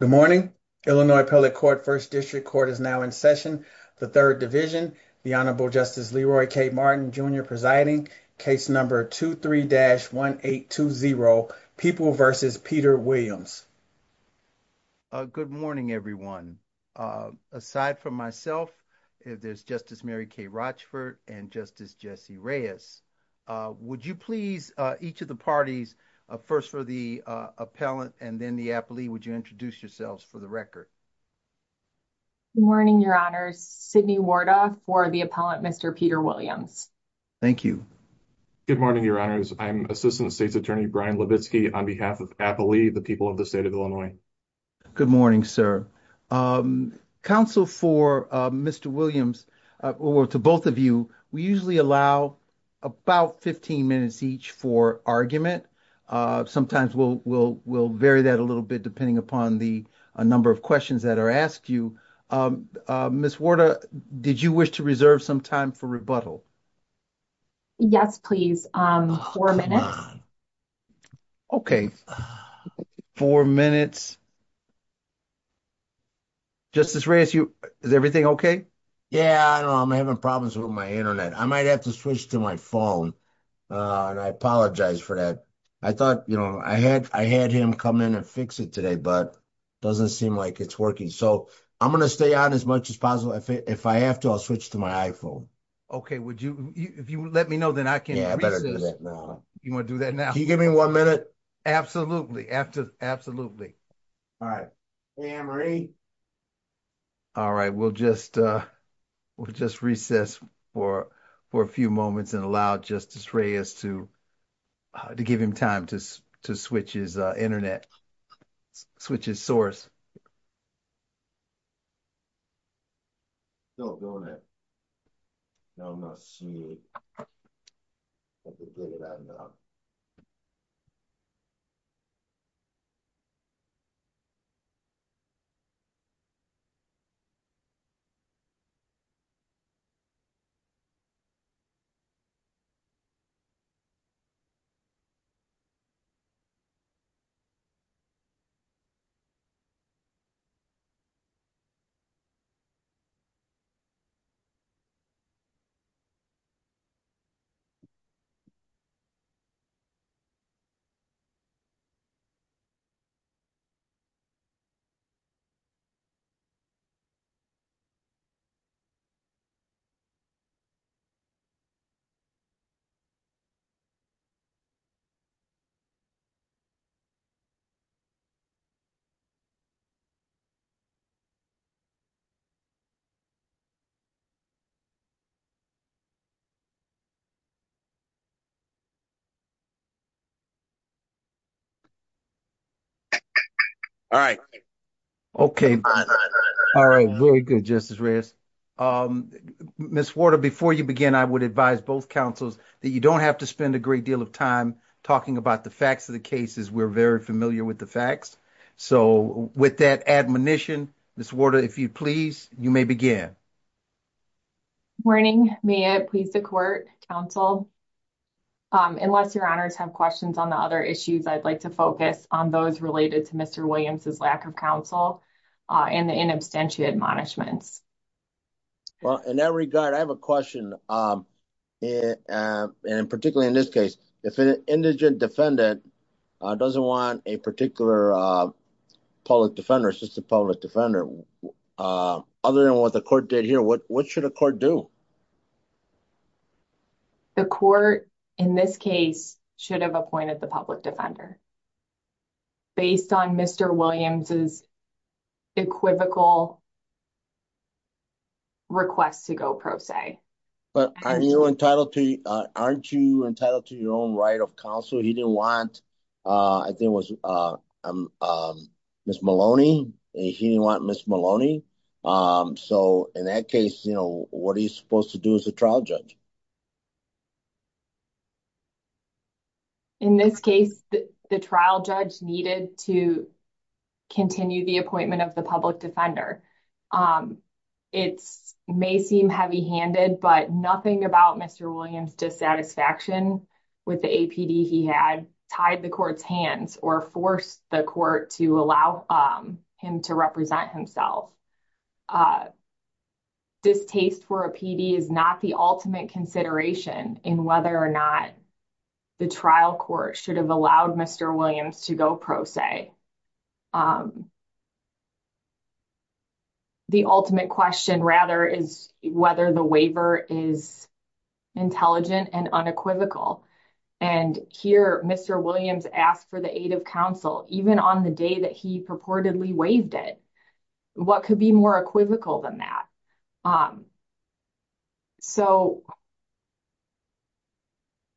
Good morning. Illinois Appellate Court First District Court is now in session. The Third Division, the Honorable Justice Leroy K. Martin, Jr. presiding, case number 23-1820, People v. Peter Williams. Good morning, everyone. Aside from myself, there's Justice Mary K. Rochford and Justice Jesse Reyes. Would you please, each of the parties, first for the appellant and then the for the record? Good morning, Your Honors. Sidney Wardoff for the appellant, Mr. Peter Williams. Thank you. Good morning, Your Honors. I'm Assistant State's Attorney Brian Levitsky on behalf of Appalee, the people of the state of Illinois. Good morning, sir. Counsel for Mr. Williams, or to both of you, we usually allow about 15 minutes each for argument. Sometimes we'll vary that a little bit depending upon the number of questions that are asked you. Ms. Wardoff, did you wish to reserve some time for rebuttal? Yes, please. Four minutes. Okay. Four minutes. Justice Reyes, is everything okay? Yeah, I'm having problems with my internet. I might have to switch to my phone, and I apologize for that. I thought, you know, I had him come in and fix it today, but it doesn't seem like it's working. So, I'm going to stay on as much as possible. If I have to, I'll switch to my iPhone. Okay. Would you, if you let me know, then I can. Yeah, I better do that now. You want to do that now? Can you give me one minute? Absolutely. After, absolutely. All right. Ann Marie. All right. We'll just, we'll just recess for a few moments and allow Justice Reyes to to give him time to switch his internet, switch his source. Still doing it. No, I'm not seeing it. All right. Okay. All right. Very good, Justice Reyes. Ms. Warder, before you begin, I would advise both counsels that you don't have to spend a great deal of time talking about the facts of the cases. We're very familiar with the facts. So, with that admonition, Ms. Warder, if you please, you may begin. Morning. May it please the court, counsel. Unless your honors have questions on the other issues, I'd like to focus on those related to Mr. Williams's lack of counsel and the inabstantiated admonishments. Well, in that regard, I have a question. Particularly in this case, if an indigent defendant doesn't want a particular public defender, just a public defender, other than what the court did here, what should a court do? The court, in this case, should have appointed the public defender. Based on Mr. Williams's equivocal request to go pro se. But aren't you entitled to your own right of counsel? He didn't want, I think it was Ms. Maloney. He didn't want Ms. Maloney. So, in that case, what are you supposed to do as a trial judge? In this case, the trial judge needed to continue the appointment of the public defender. It may seem heavy-handed, but nothing about Mr. Williams's dissatisfaction with the APD he had tied the court's hands or forced the court to allow him to represent himself. A distaste for APD is not the ultimate consideration in whether or not the trial court should have allowed Mr. Williams to go pro se. The ultimate question, rather, is whether the waiver is intelligent and unequivocal. Here, Mr. Williams asked for the aid of counsel even on the day that he purportedly waived it. What could be more equivocal than that?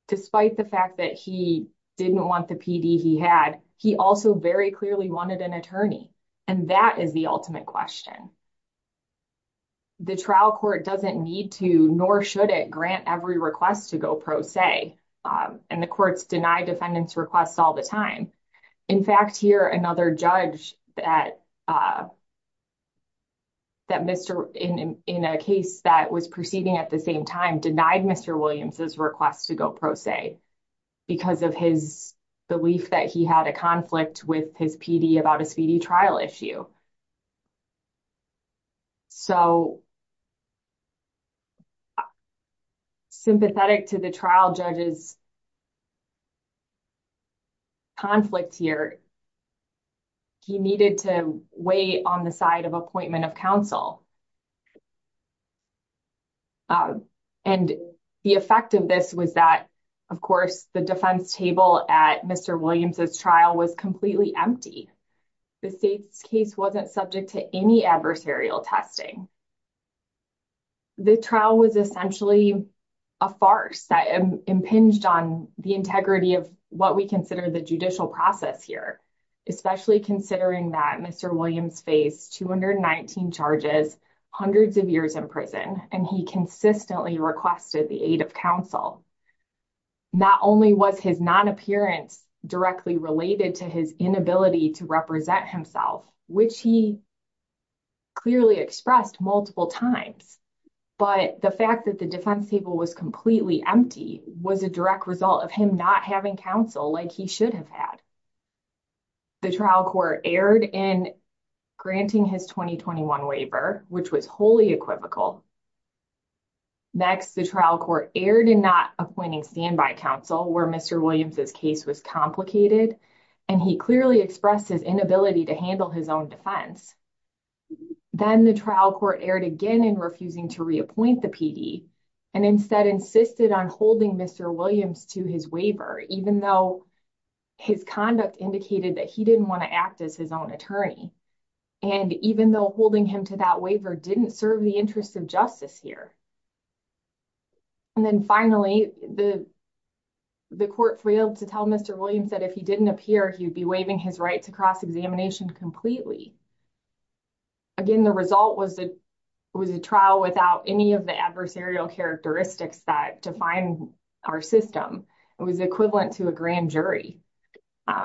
Despite the fact that he didn't want the PD he had, he also very clearly wanted an attorney, and that is the ultimate question. The trial court doesn't need to, nor should it, grant every request to go pro se, and the courts deny defendants' requests all the time. In fact, here, another judge, in a case that was proceeding at the same time, denied Mr. Williams's request to go pro se because of his belief that he had a conflict with his PD about a speedy trial issue. Sympathetic to the trial judge's conflict here, he needed to wait on the side of appointment of counsel. And the effect of this was that, of course, the defense table at Mr. Williams's trial was empty. The state's case wasn't subject to any adversarial testing. The trial was essentially a farce that impinged on the integrity of what we consider the judicial process here, especially considering that Mr. Williams faced 219 charges, hundreds of years in prison, and he consistently requested the aid of counsel. Not only was his non-appearance directly related to his inability to represent himself, which he clearly expressed multiple times, but the fact that the defense table was completely empty was a direct result of him not having counsel like he should have had. The trial court erred in granting his 2021 waiver, which was wholly equivocal. Next, the trial court erred in not appointing standby counsel where Mr. Williams's case was complicated, and he clearly expressed his inability to handle his own defense. Then the trial court erred again in refusing to reappoint the PD, and instead insisted on holding Mr. Williams to his waiver, even though his conduct indicated that he didn't want to act as his own attorney. And even though holding him to that waiver didn't serve the interests of justice here. And then finally, the court failed to tell Mr. Williams that if he didn't appear, he would be waiving his rights across examination completely. Again, the result was a trial without any of the adversarial characteristics that define our system. It was equivalent to a devoid of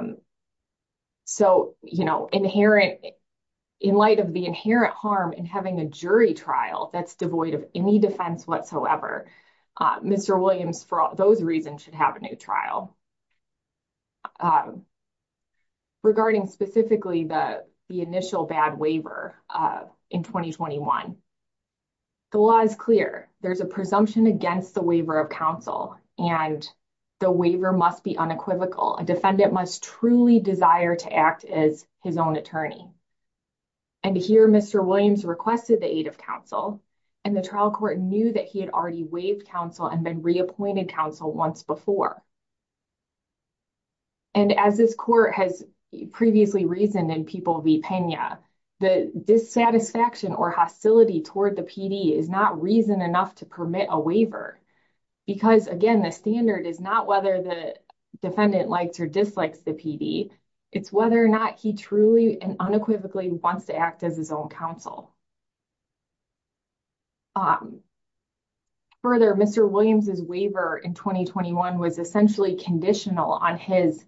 any defense whatsoever. Mr. Williams, for those reasons, should have a new trial. Regarding specifically the initial bad waiver in 2021, the law is clear. There's a presumption against the waiver of counsel, and the waiver must be unequivocal. A defendant must truly desire to act as his own attorney. And here Mr. Williams requested the aid of counsel, and the trial court knew that he had already waived counsel and been reappointed counsel once before. And as this court has previously reasoned in People v. Pena, the dissatisfaction or hostility toward the PD is not reason enough to permit a waiver. Because again, the standard is not whether the defendant likes or dislikes the PD. It's whether or not he truly and unequivocally wants to act as his own counsel. Further, Mr. Williams' waiver in 2021 was essentially conditional on his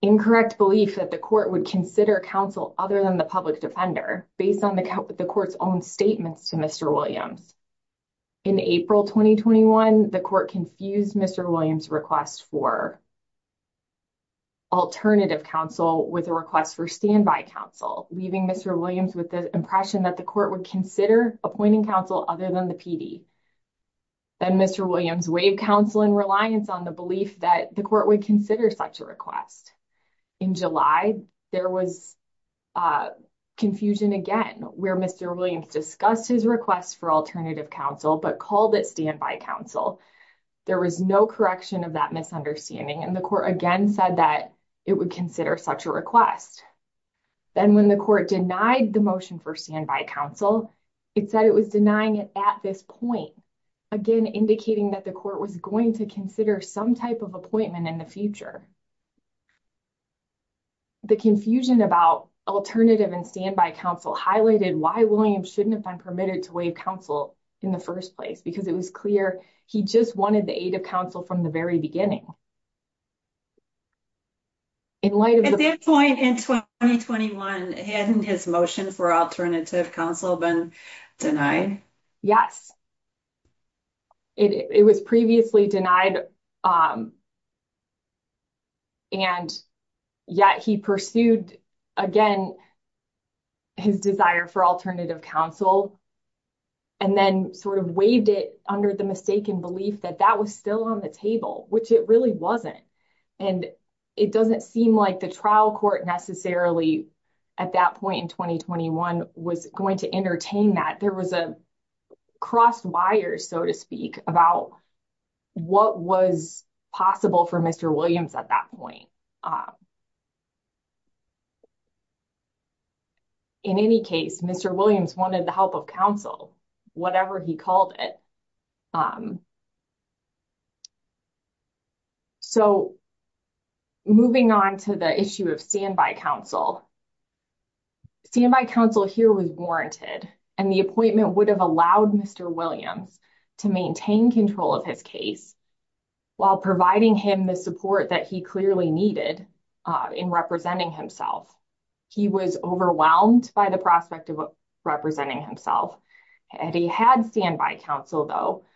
incorrect belief that the court would consider counsel other than the public defender, based on the court's own statements to Mr. Williams. In April 2021, the court confused Mr. Williams' request for alternative counsel with a request for standby counsel, leaving Mr. Williams with the impression that the court would consider appointing counsel other than the PD. Then Mr. Williams waived counsel in reliance on the belief that the court would consider such a request. In July, there was confusion again, where Mr. Williams discussed his request for alternative counsel, but called it standby counsel. There was no correction of that misunderstanding and the court again said that it would consider such a request. Then when the court denied the motion for standby counsel, it said it was denying it at this point, again indicating that the court was going to consider some type of appointment in the future. The confusion about alternative and standby counsel highlighted why Williams shouldn't have been permitted to waive counsel in the first place, because it was clear he just wanted the aid of counsel from the very beginning. At this point in 2021, hadn't his motion for alternative counsel been denied? Yes, it was previously denied and yet he pursued again his desire for alternative counsel and then sort of waived it under the mistaken belief that that was still on the table, which it really wasn't. It doesn't seem like the trial court necessarily at that point in 2021 was going to entertain that. There was a crossed wire, so to speak, about what was possible for Mr. Williams at that point. In any case, Mr. Williams wanted the help of counsel. Whatever he called it. Moving on to the issue of standby counsel. Standby counsel here was warranted and the appointment would have allowed Mr. Williams to maintain control of his case while providing him the support that he clearly needed in representing himself. He was overwhelmed by the prospect of representing himself and he had standby counsel though.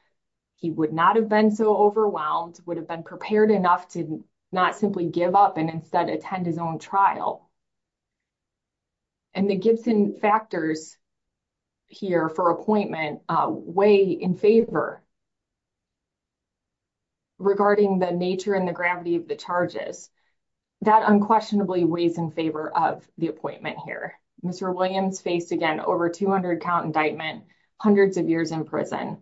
He would not have been so overwhelmed, would have been prepared enough to not simply give up and instead attend his own trial. The Gibson factors here for appointment weigh in favor regarding the nature and the gravity of the charges. That unquestionably weighs in favor of the appointment here. Mr. Williams faced, again, over 200 count indictment, hundreds of years in prison.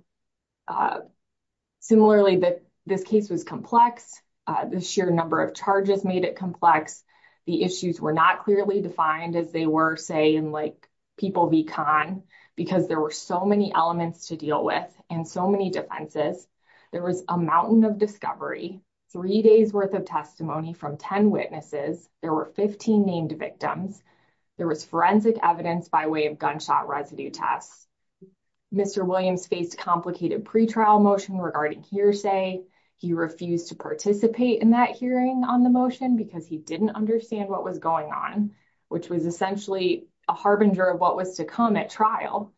Similarly, this case was complex. The sheer number of charges made it complex. The issues were not clearly defined as they were, say, in like People v. Con because there were so many elements to deal with and so many defenses. There was a mountain of three days' worth of testimony from 10 witnesses. There were 15 named victims. There was forensic evidence by way of gunshot residue tests. Mr. Williams faced complicated pre-trial motion regarding hearsay. He refused to participate in that hearing on the motion because he didn't understand what was going on, which was essentially a harbinger of what was to come at trial.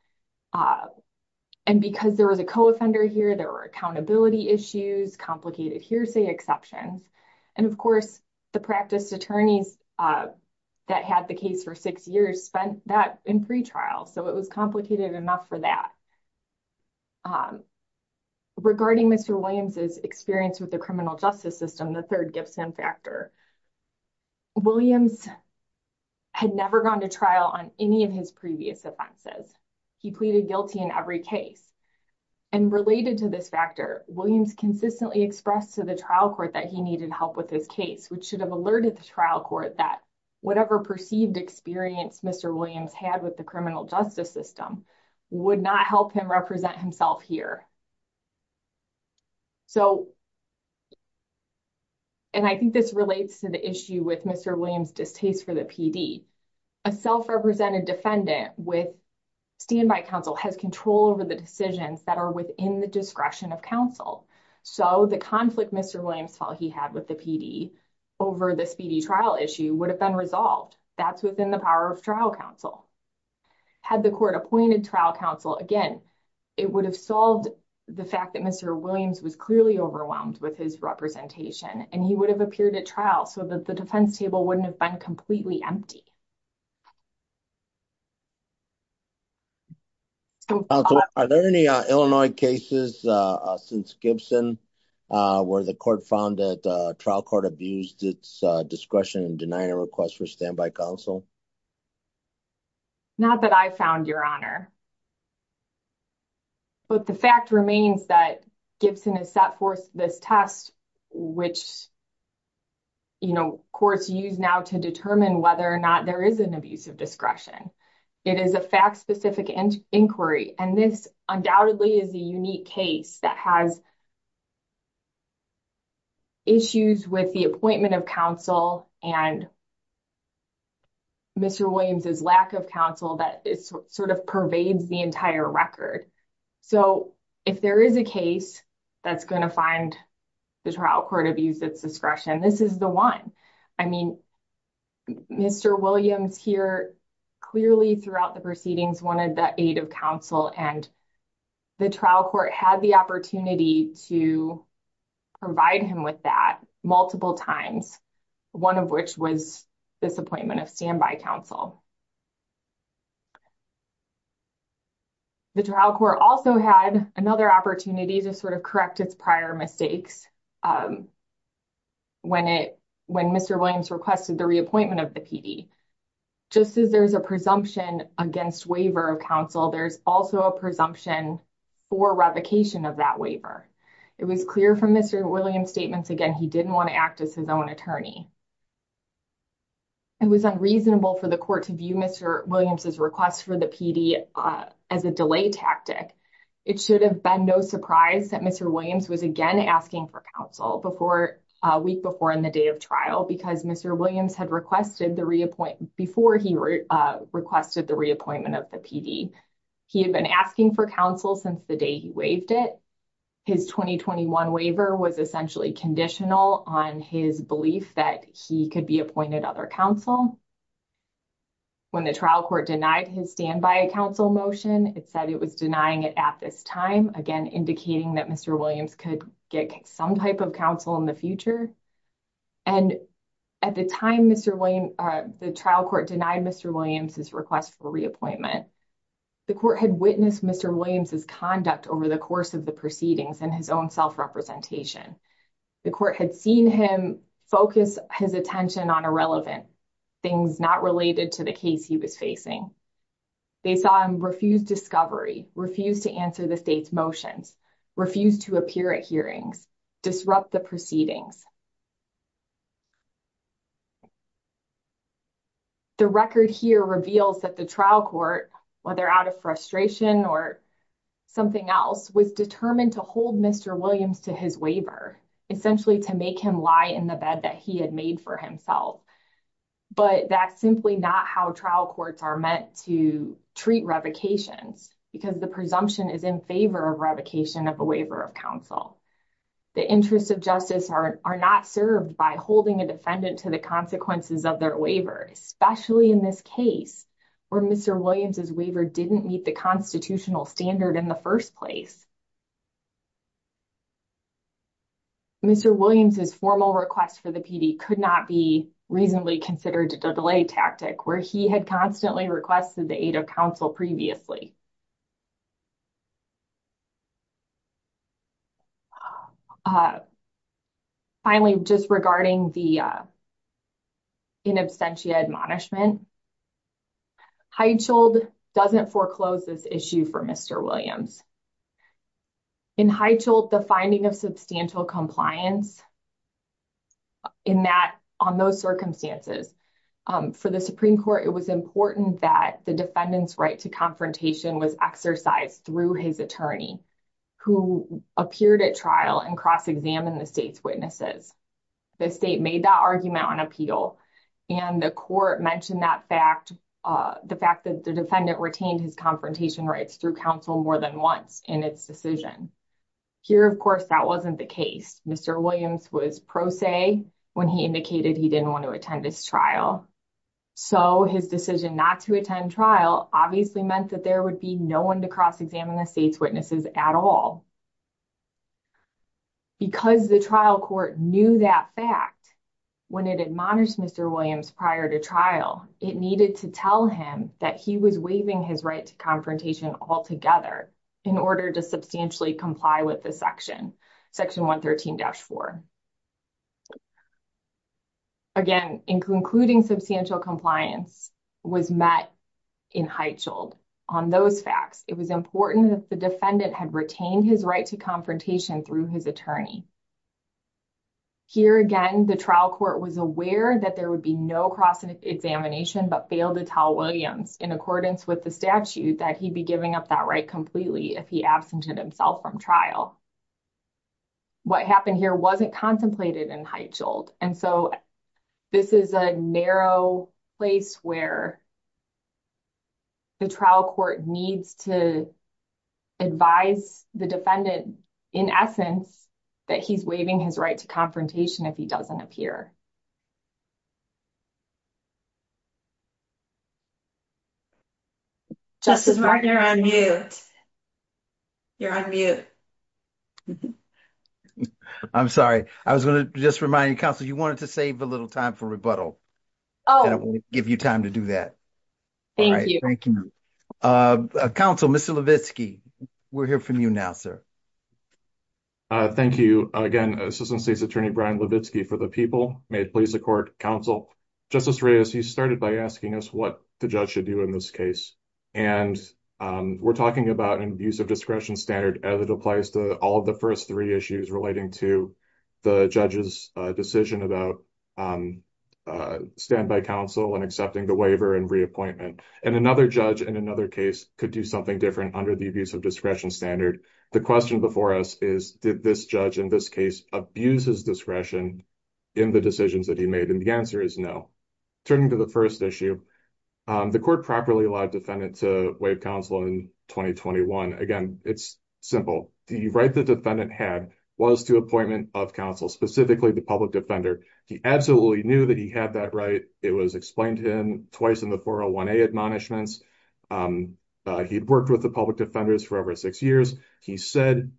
And because there was a co-offender here, there were accountability issues, complicated hearsay exceptions. And, of course, the practiced attorneys that had the case for six years spent that in pre-trial, so it was complicated enough for that. Regarding Mr. Williams' experience with the criminal justice system, the third Gibson factor, Williams had never gone to trial on any of his previous offenses. He pleaded guilty in every case. And related to this factor, Williams consistently expressed to the trial court that he needed help with his case, which should have alerted the trial court that whatever perceived experience Mr. Williams had with the criminal justice system would not help him represent himself here. And I think this relates to the issue with Mr. Williams' distaste for the PD. A self-represented defendant with standby counsel has control over the decisions that are within the discretion of counsel. So the conflict Mr. Williams felt he had with the PD over the speedy trial issue would have been resolved. That's within the power of trial counsel. Had the court appointed trial counsel, again, it would have solved the fact that Mr. Williams was clearly overwhelmed with his representation, and he would have appeared at trial so that the defense table wouldn't have been completely empty. Are there any Illinois cases since Gibson where the court found that trial court abused its discretion in denying a request for standby counsel? Not that I found, Your Honor. But the fact remains that Gibson has set forth this test, which, you know, courts use now to determine whether or not there is an abuse of discretion. It is a fact-specific inquiry, and this undoubtedly is a unique case that has issues with the appointment of counsel and Mr. Williams' lack of counsel that sort of pervades the entire record. So if there is a case that's going to find the trial court abused its discretion, this is the one. I mean, Mr. Williams here clearly throughout the proceedings wanted the aid of counsel, and the trial court had the opportunity to provide him with that multiple times, one of which was this appointment of standby counsel. The trial court also had another opportunity to sort of correct its prior mistakes when Mr. Williams requested the reappointment of the PD. Just as there's a presumption against waiver of counsel, there's also a presumption for revocation of that waiver. It was clear from Mr. Williams' statements, again, he didn't want to act as his own attorney. It was unreasonable for the court to view Mr. Williams' request for the PD as a delay tactic. It should have been no surprise that Mr. Williams was again asking for counsel a week before in the day of trial, because Mr. Williams had requested the reappointment before he requested the reappointment of the PD. He had been asking for counsel since the day he waived it. His 2021 waiver was essentially conditional on his belief that he could be appointed other counsel. When the trial court denied his standby counsel motion, it said it was denying it at this time, again, indicating that Mr. Williams could get some type of counsel in the future. At the time the trial court denied Mr. Williams' request for reappointment, the court had witnessed Mr. Williams' conduct over the course of the proceedings and his own self-representation. The court had seen him focus his attention on irrelevant things not related to the case he was facing. They saw him refuse discovery, refuse to the state's motions, refuse to appear at hearings, disrupt the proceedings. The record here reveals that the trial court, whether out of frustration or something else, was determined to hold Mr. Williams to his waiver, essentially to make him lie in the bed that he had made for himself. But that's simply not how trial courts are meant to treat revocations because the presumption is in favor of revocation of a waiver of counsel. The interests of justice are not served by holding a defendant to the consequences of their waiver, especially in this case, where Mr. Williams' waiver didn't meet the constitutional standard in the first place. Mr. Williams' formal request for the PD could not be reasonably considered a delay tactic where he had constantly requested the aid of counsel previously. Finally, just regarding the in absentia admonishment, Heichold doesn't foreclose this issue for Mr. Williams. In Heichold, the finding of substantial defendant's right to confrontation was exercised through his attorney who appeared at trial and cross-examined the state's witnesses. The state made that argument on appeal and the court mentioned the fact that the defendant retained his confrontation rights through counsel more than once in its decision. Here, of course, that wasn't the case. Mr. Williams was pro se when he indicated he didn't want to attend his trial, so his decision not to attend trial obviously meant that there would be no one to cross-examine the state's witnesses at all. Because the trial court knew that fact when it admonished Mr. Williams prior to trial, it needed to tell him that he was waiving his right to confrontation altogether in order to substantially comply with Section 113-4. Again, including substantial compliance was met in Heichold on those facts. It was important that the defendant had retained his right to confrontation through his attorney. Here again, the trial court was aware that there would be no cross-examination but failed to tell if he absented himself from trial. What happened here wasn't contemplated in Heichold. This is a narrow place where the trial court needs to advise the defendant in essence that he's waiving his right to confrontation if he doesn't appear. Justice Breyer, you're on mute. You're on mute. I'm sorry. I was going to just remind you, counsel, you wanted to save a little time for rebuttal. Oh. I didn't want to give you time to do that. Thank you. Thank you. Counsel, Mr. Levitsky, we'll hear from you now, sir. Thank you. Again, Assistant State's Attorney Brian Levitsky for the people. May it please the court, counsel. Justice Reyes, you started by asking us what the judge should do in this case. And we're talking about an abusive discretion standard as it applies to all of the first three issues relating to the judge's decision about standby counsel and accepting the waiver and reappointment. And another judge in another case could do something different under the same standard. So the question before us is, did this judge in this case abuse his discretion in the decisions that he made? And the answer is no. Turning to the first issue, the court properly allowed defendant to waive counsel in 2021. Again, it's simple. The right the defendant had was to appointment of counsel, specifically the public defender. He absolutely knew that he had that right. It was explained to him twice in the 401A admonishments. He'd worked with the public defenders for over six years. He said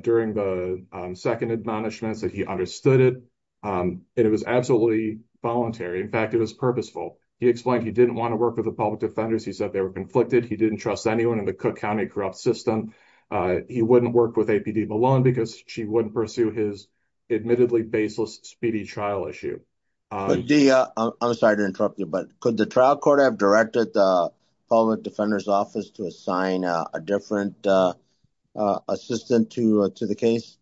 during the second admonishments that he understood it. And it was absolutely voluntary. In fact, it was purposeful. He explained he didn't want to work with the public defenders. He said they were conflicted. He didn't trust anyone in the Cook County corrupt system. He wouldn't work with APD Malone because she wouldn't pursue his admittedly baseless speedy trial issue. I'm sorry to interrupt you, but the trial court have directed the public defender's office to assign a different assistant to the case?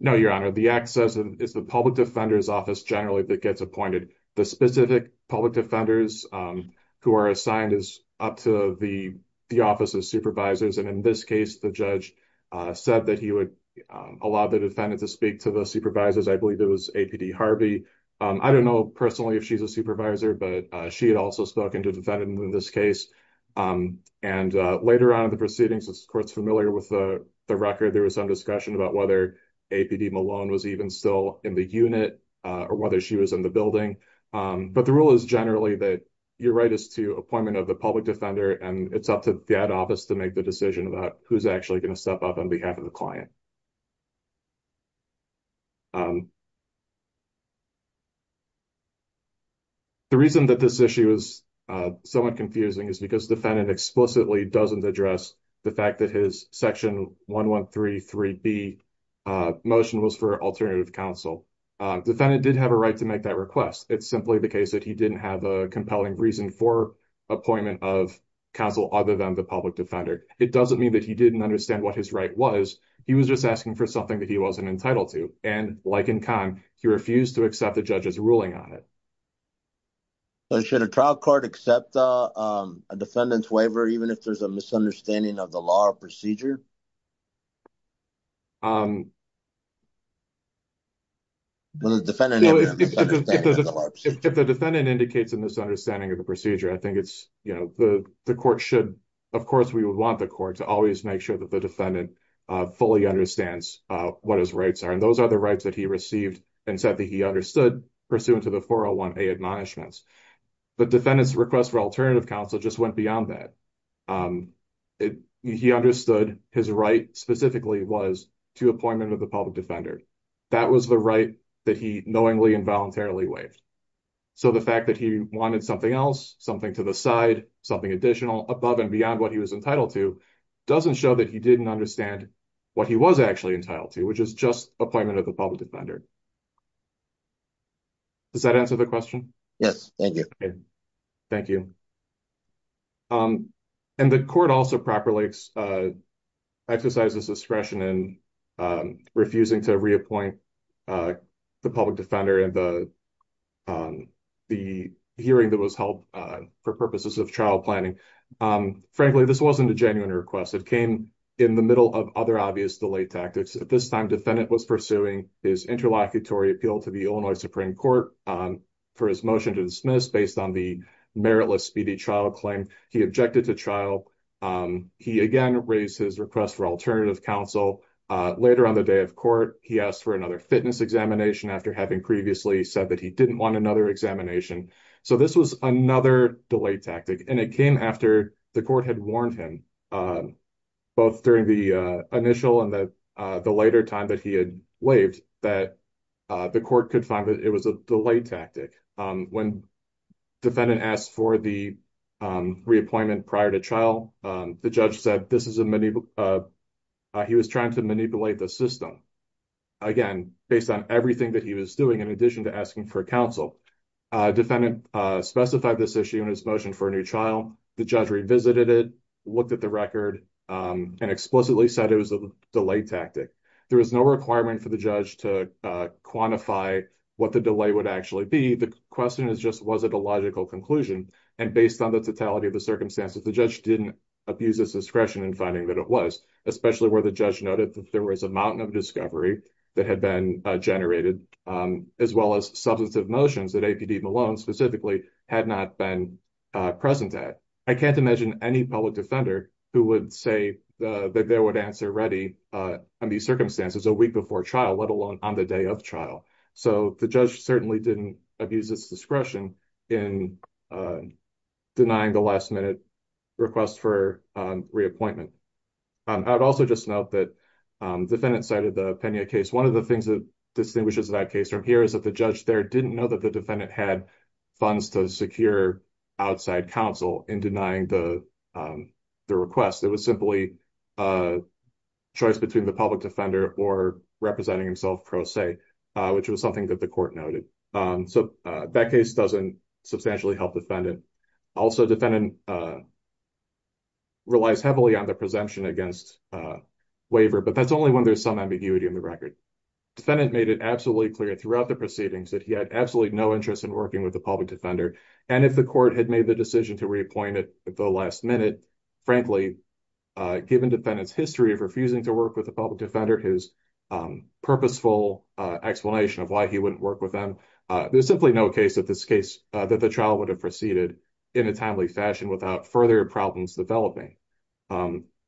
No, your honor. The access is the public defender's office generally that gets appointed. The specific public defenders who are assigned is up to the office of supervisors. And in this case, the judge said that he would allow the defendant to speak to the supervisors. I believe it was APD Harvey. I don't know personally if she's a supervisor, but she also spoke to the defendant in this case. And later on in the proceedings, the court's familiar with the record. There was some discussion about whether APD Malone was even still in the unit or whether she was in the building. But the rule is generally that your right is to appointment of the public defender. And it's up to the ad office to make the decision about who's actually going to someone confusing is because the defendant explicitly doesn't address the fact that his section 1133B motion was for alternative counsel. Defendant did have a right to make that request. It's simply the case that he didn't have a compelling reason for appointment of counsel other than the public defender. It doesn't mean that he didn't understand what his right was. He was just asking for something that he wasn't entitled to. And like in time, he refused to accept the judge's ruling on it. So should a trial court accept a defendant's waiver, even if there's a misunderstanding of the law or procedure? If the defendant indicates a misunderstanding of the procedure, I think it's, you know, the court should, of course, we would want the court to always make sure that the defendant fully understands what his rights are. And those are the rights that he received and said that he understood pursuant to the 401A admonishments. But defendant's request for alternative counsel just went beyond that. He understood his right specifically was to appointment of the public defender. That was the right that he knowingly and voluntarily waived. So the fact that he wanted something else, something to the side, something additional above and beyond what he was entitled to, doesn't show that he didn't understand what he was actually entitled to, which is just appointment of the public defender. Does that answer the question? Thank you. And the court also properly exercises discretion in refusing to reappoint the public defender and the hearing that was held for purposes of trial planning. Frankly, this wasn't a genuine request. It came in the middle of other obvious delay tactics. At this time, defendant was pursuing his interlocutory appeal to the Illinois Supreme Court for his motion to dismiss based on the meritless speedy trial claim. He objected to trial. He again raised his request for alternative counsel. Later on the day of court, he asked for another fitness examination after having previously said that he didn't want another examination. So this was another delay tactic, and it came after the court had warned him, both during the initial and the later time that he had waived, that the court could find that it was a delay tactic. When defendant asked for the reappointment prior to trial, the judge said he was trying to manipulate the system, again, based on everything that he was doing in addition to asking for counsel. Defendant specified this issue in his motion for a new trial. The judge revisited it, looked at the record, and explicitly said it was a delay tactic. There was no requirement for the judge to quantify what the delay would actually be. The question is just was it a logical conclusion. And based on the totality of the circumstances, the judge didn't abuse his discretion in finding that it was, especially where the judge noted that there was a mountain of discovery that had been generated, as well as substantive motions that APD Malone specifically had not been present at. I can't imagine any public defender who would say that they would answer ready in these circumstances a week before trial, let alone on the day of trial. So the judge certainly didn't abuse his discretion in denying the last-minute request for reappointment. I would also just note that the defendant cited the Pena case. One of the things that distinguishes that case from here is that the judge there didn't know that the defendant had funds to secure outside counsel in denying the request. It was simply a choice between the public defender or representing himself pro se, which was something that the court noted. So that case doesn't substantially help defendant. Also, defendant relies heavily on the presumption against waiver, but that's only when there's some ambiguity in the record. Defendant made it absolutely clear throughout the proceedings that he had absolutely no interest in working with the public defender. And if the court had made the decision to reappoint it at the last minute, frankly, given defendant's history of refusing to work with the public defender, his purposeful explanation of why he wouldn't work with them, there's simply no case that the trial would have proceeded in a timely fashion without further problems developing.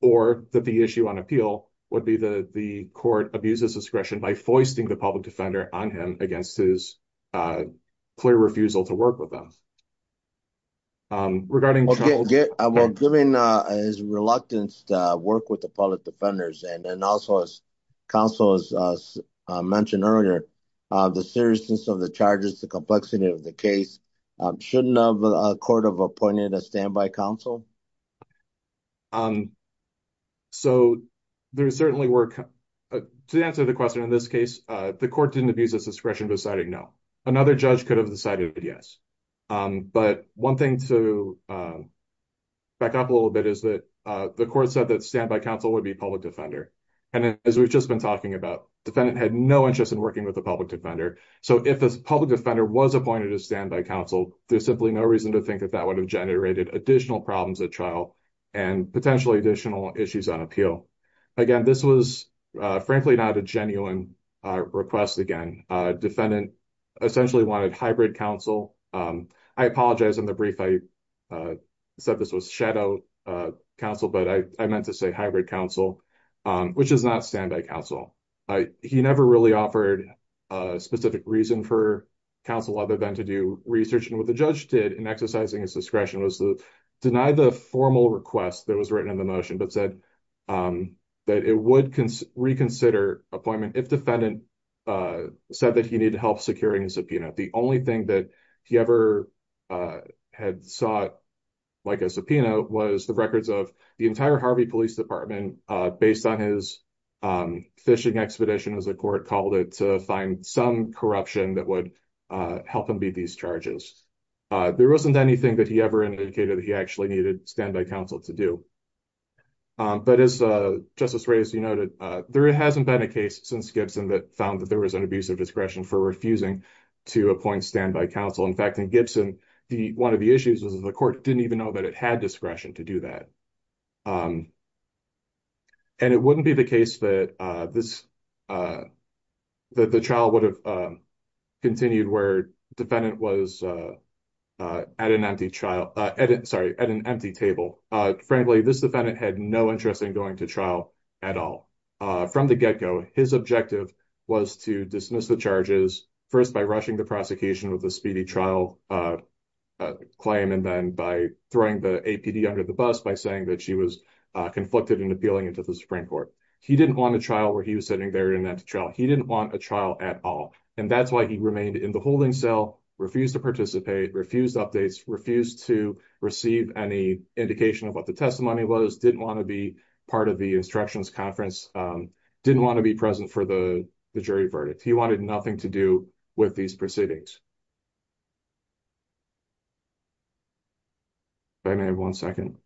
Or that the issue on appeal would be that the court abuses discretion by foisting the public defender on him against his clear refusal to work with them. Well, given his reluctance to work with the public defenders and also as counsel has mentioned earlier, the seriousness of the charges, the complexity of the case, shouldn't a court have appointed a standby counsel? So there certainly were, to answer the question in this case, the court didn't abuse his discretion deciding no. Another judge could have decided yes. But one thing to back up a little bit is that the court said that and as we've just been talking about, defendant had no interest in working with the public defender. So if the public defender was appointed a standby counsel, there's simply no reason to think that that would have generated additional problems at trial and potentially additional issues on appeal. Again, this was frankly not a genuine request again. Defendant essentially wanted hybrid counsel. I apologize in the brief I said this was shadow counsel, but I meant to say hybrid counsel, which is not standby counsel. He never really offered a specific reason for counsel other than to do research. And what the judge did in exercising his discretion was to deny the formal request that was written in the motion, but said that it would reconsider appointment if defendant said that he needed help securing a subpoena. The only thing that he ever had sought like a subpoena was the records of the entire Harvey Police Department based on his phishing expedition, as the court called it, to find some corruption that would help him beat these charges. There wasn't anything that he ever indicated that he actually needed standby counsel to do. But as Justice Ray, as you noted, there hasn't been a case since Gibson that found there was an abuse of discretion for refusing to appoint standby counsel. In fact, in Gibson, one of the issues was the court didn't even know that it had discretion to do that. And it wouldn't be the case that the trial would have continued where defendant was at an empty table. Frankly, this defendant had no interest in going to trial at all. From the his objective was to dismiss the charges first by rushing the prosecution with a speedy trial claim, and then by throwing the APD under the bus by saying that she was conflicted and appealing it to the Supreme Court. He didn't want a trial where he was sitting there in that trial. He didn't want a trial at all. And that's why he remained in the holding cell, refused to participate, refused updates, refused to receive any indication of what the testimony was, didn't want to be part of the instructions conference, didn't want to be present for the jury verdict. He wanted nothing to do with these proceedings. If I may have one second.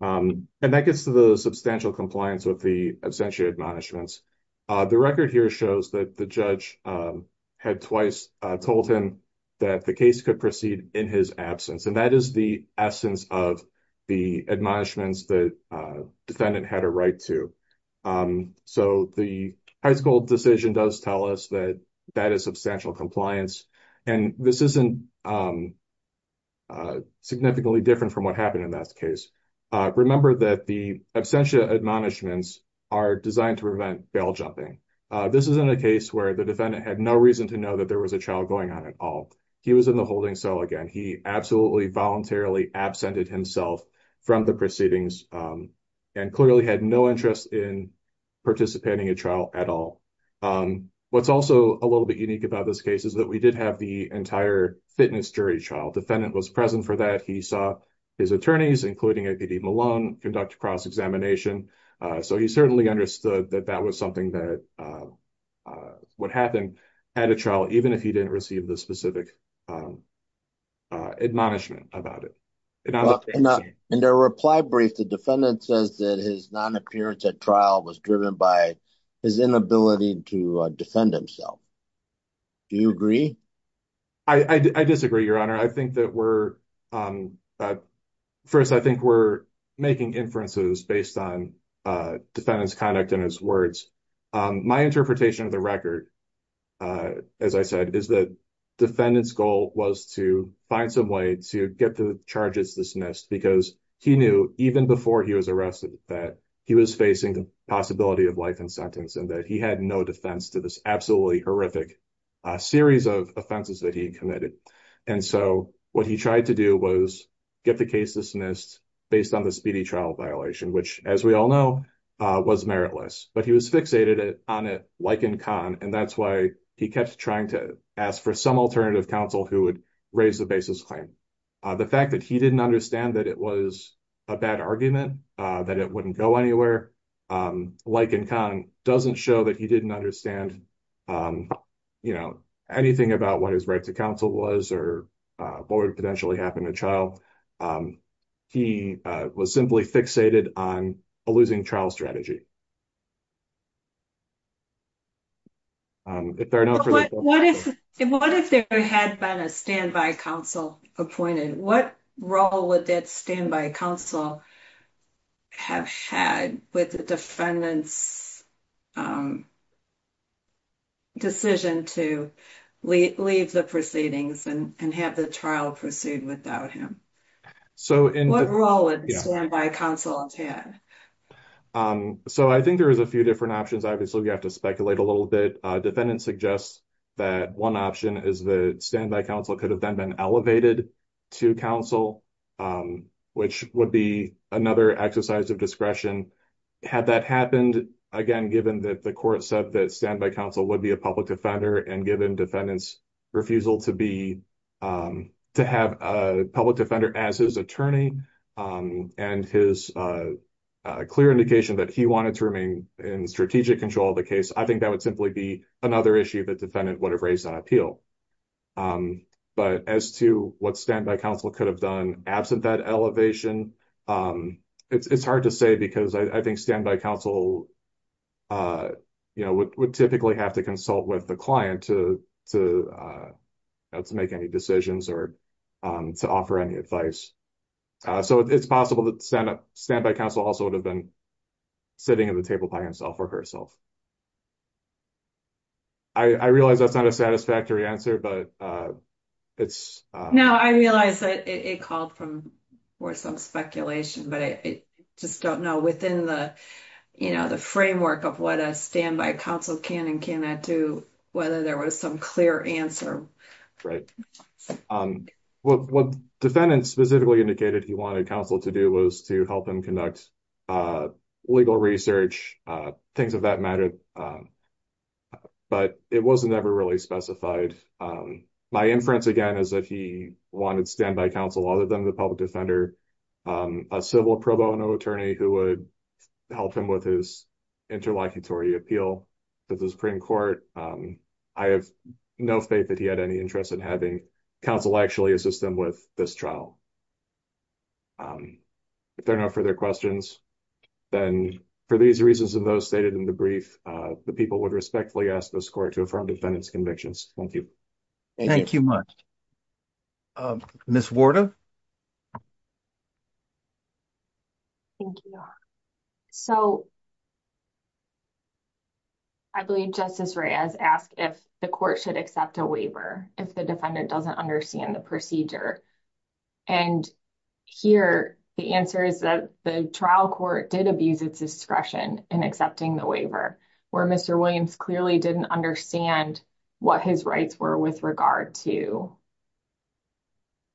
And that gets to the substantial compliance with the absentia admonishments. The record here shows that the judge had twice told him that the case could proceed in his absence. And that is the essence of the admonishments that defendant had a right to. So the high school decision does tell us that that is substantial compliance. And this isn't significantly different from what happened in that case. Remember that the absentia admonishments are designed to prevent bail jumping. This isn't a case where the defendant had no reason to know that there was a trial going on at all. He was in the holding cell again. He absolutely voluntarily absented himself from the proceedings and clearly had no interest in participating in trial at all. What's also a little bit unique about this case is that we did have the entire fitness jury trial. Defendant was present for that. He saw his attorneys, including APD Malone, conduct cross examination. So he certainly understood that that was something that would happen at a trial, even if he didn't receive the specific admonishment about it. And in their reply brief, the defendant says that his non-appearance at trial was driven by his inability to defend himself. Do you agree? I disagree, Your Honor. I think that we're, first, I think we're making inferences based on defendant's conduct and his words. My interpretation of the record, as I said, is that defendant's goal was to find some way to get the charges dismissed because he knew even before he was arrested that he was facing the possibility of life in sentence and that he had no defense to this absolutely horrific series of offenses that he had committed. And so what he tried to do was get the case dismissed based on the speedy trial violation, which, as we all know, was meritless. But he was fixated on it like in Kahn, and that's why he kept trying to ask for some alternative counsel who would raise the basis claim. The fact that he didn't understand that it was a bad argument, that it wouldn't go anywhere, like in Kahn, doesn't show that he didn't understand anything about what his right to counsel was or what would potentially happen to trial. He was simply fixated on a losing trial strategy. What if there had been a standby counsel appointed? What role would that standby counsel have had with the defendant's decision to leave the proceedings and have the trial pursued without him? What role would the standby counsel have had? So I think there is a few different options. Obviously, we have to speculate a little bit. Defendant suggests that one option is the standby counsel could have then been elevated to counsel, which would be another exercise of discretion. Had that happened, again, given that the court said that standby counsel would be a public defender and given defendant's refusal to have a public defender as his attorney and his clear indication that he wanted to remain in strategic control of the case, I think that would simply be another issue that defendant would have raised on appeal. But as to what standby counsel could have done absent that elevation, it's hard to say, because I think standby counsel would typically have to consult with the client to make any decisions or to offer any advice. So it's possible that standby counsel also would have been sitting at the table by himself or herself. I realize that's not a satisfactory answer, but it's... No, I realize that it called for some speculation, but I just don't know within the framework of what a standby counsel can and cannot do whether there was some clear answer. Right. What defendant specifically indicated he wanted counsel to do was to help him conduct legal research, things of that matter. But it wasn't ever really specified. My inference, again, is that he wanted standby counsel other than the public defender, a civil pro bono attorney who would help him with his interlocutory appeal to the Supreme Court. I have no faith that he had any interest in having counsel actually assist him with this trial. If there are no further questions, then for these reasons and those stated in the brief, the people would respectfully ask the court to affirm defendant's convictions. Thank you. Thank you much. Ms. Warda. Thank you. So I believe Justice Reyes asked if the court should accept a waiver if the defendant doesn't understand the procedure. And here, the answer is that the trial court did abuse its discretion in accepting the waiver where Mr. Williams clearly didn't understand what his rights were with regard to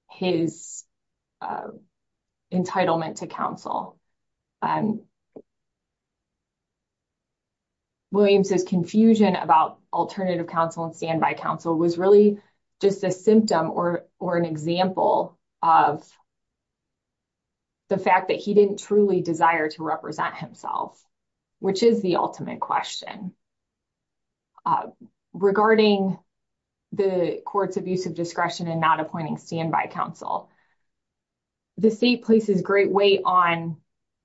his entitlement to counsel. Williams's confusion about alternative counsel and standby counsel was really just a symptom or an example of the fact that he didn't truly desire to represent himself, which is the ultimate question. Regarding the court's abuse of discretion and not appointing standby counsel, the state places great weight on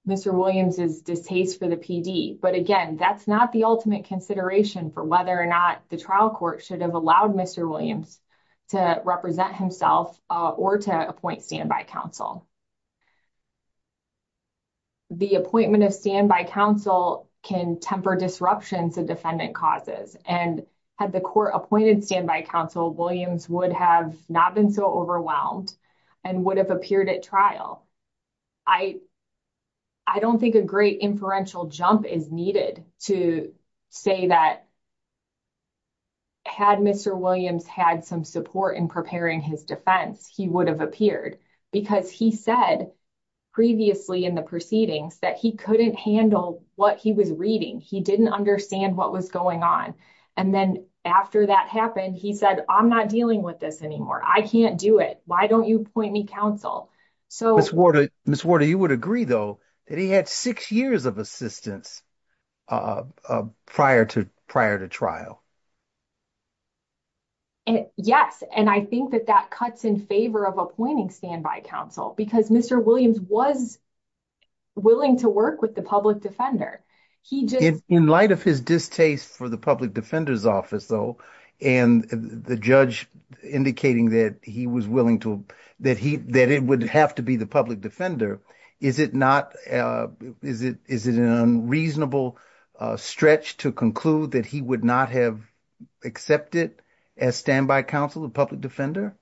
Mr. Williams's distaste for the PD. But again, that's not the ultimate consideration for whether or not the trial court should have allowed Mr. Williams to represent himself or to appoint standby counsel. The appointment of standby counsel can temper disruption to defendant causes. And had the court appointed standby counsel, Williams would have not been so overwhelmed and would have appeared at trial. I don't think a great inferential jump is needed to say that had Mr. Williams had some support in preparing his defense, he would have appeared, because he said previously in the proceedings that he couldn't handle what he was reading. He didn't understand what was going on. And then after that happened, he said, I'm not dealing with this anymore. I can't do it. Why don't you appoint me counsel? So, Ms. Warder, you would though, that he had six years of assistance prior to trial. Yes. And I think that that cuts in favor of appointing standby counsel, because Mr. Williams was willing to work with the public defender. In light of his distaste for the public defender's office, though, and the judge indicating that he would have to be the public defender, is it an unreasonable stretch to conclude that he would not have accepted as standby counsel a public defender?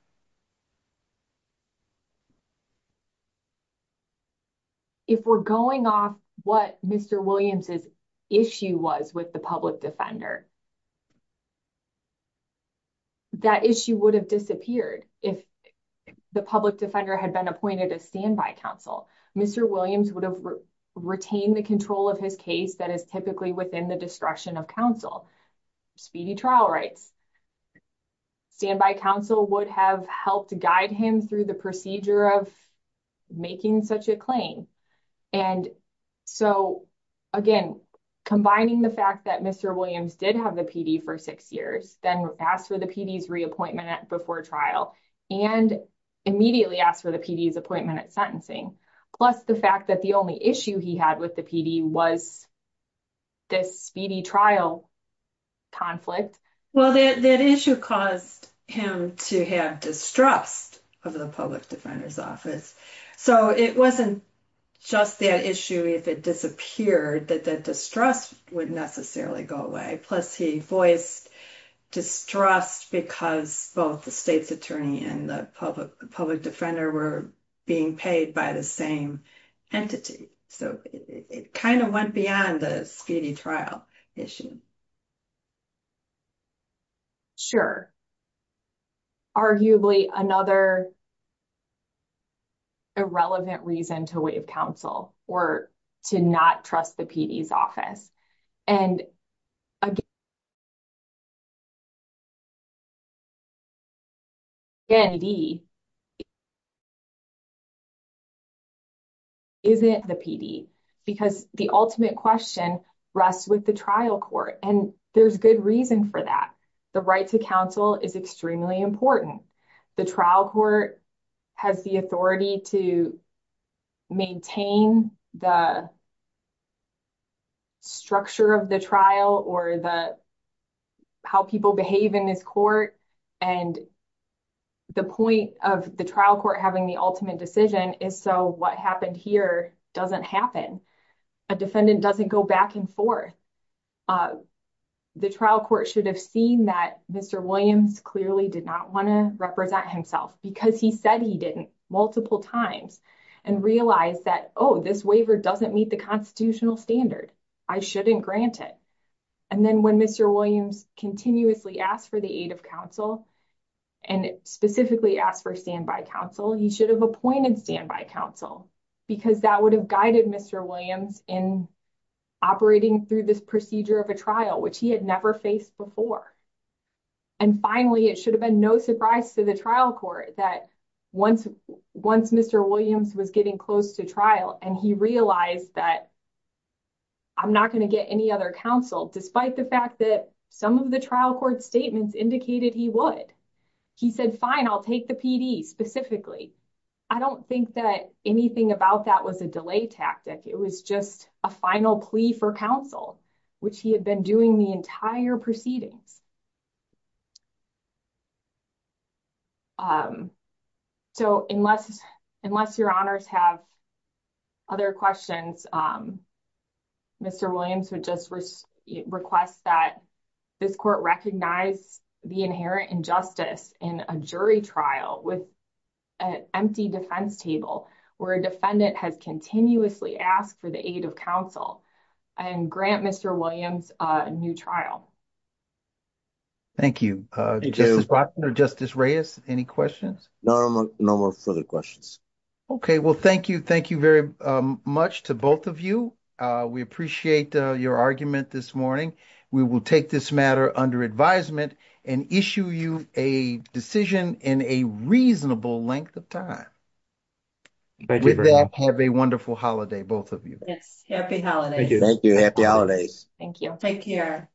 If we're going off what Mr. Williams' issue was with the public defender, that issue would have disappeared if the public defender had been appointed as standby counsel. Mr. Williams would have retained the control of his case that is typically within the discretion of counsel. Speedy trial rights. Standby counsel would have helped guide him through the procedure of making such a claim. And so, again, combining the fact that Mr. Williams did have the PD for six years, then asked for the PD's reappointment before trial, and immediately asked for the PD's appointment at sentencing, plus the fact that the only issue he had with the PD was this speedy trial conflict. Well, that issue caused him to have distrust of the public defender's office. So, it wasn't just that issue, if it disappeared, that the distrust would necessarily go away. Plus, he voiced distrust because both the state's attorney and the public defender were being paid by the same entity. So, it kind of went beyond the speedy trial issue. Sure. Arguably, another irrelevant reason to waive counsel or to not trust the PD's office. And, again, the PD isn't the PD because the ultimate question rests with the trial court. And there's good reason for that. The right to counsel is extremely important. The trial court has the authority to maintain the structure of the trial or how people behave in this court. And the point of the trial court having the ultimate decision is so what happened here doesn't happen. A defendant doesn't go back and forth. The trial court should have seen that Mr. Williams clearly did not want to represent himself because he said he didn't multiple times and realized that, oh, this waiver doesn't meet the constitutional standard. I shouldn't grant it. And then when Mr. Williams continuously asked for the aid of counsel and specifically asked for standby counsel, he should have appointed standby counsel because that would have guided Mr. Williams in operating through this procedure of a trial, which he had never faced before. And finally, it should have been no surprise to the trial court that once Mr. Williams was getting close to trial and he realized that I'm not going to get any other counsel, despite the fact that some of the trial court statements indicated he would. He said, fine, I'll take the PD specifically. I don't think that anything about that was a delay tactic. It was just a final plea for counsel, which he had been doing the entire proceedings. So unless your honors have other questions, Mr. Williams would just request that this court recognize the inherent injustice in a jury trial with an empty defense table where a defendant has continuously asked for the aid of counsel and grant Mr. Williams a new trial. Thank you. Justice Reyes, any questions? No, no more further questions. Okay, well, thank you. Thank you very much to both of you. We appreciate your argument this morning. We will take this matter under advisement and issue you a decision in a reasonable length of time. Thank you very much. Have a wonderful holiday, both of you. Yes, happy holidays. Thank you. Happy holidays. Thank you. Take care.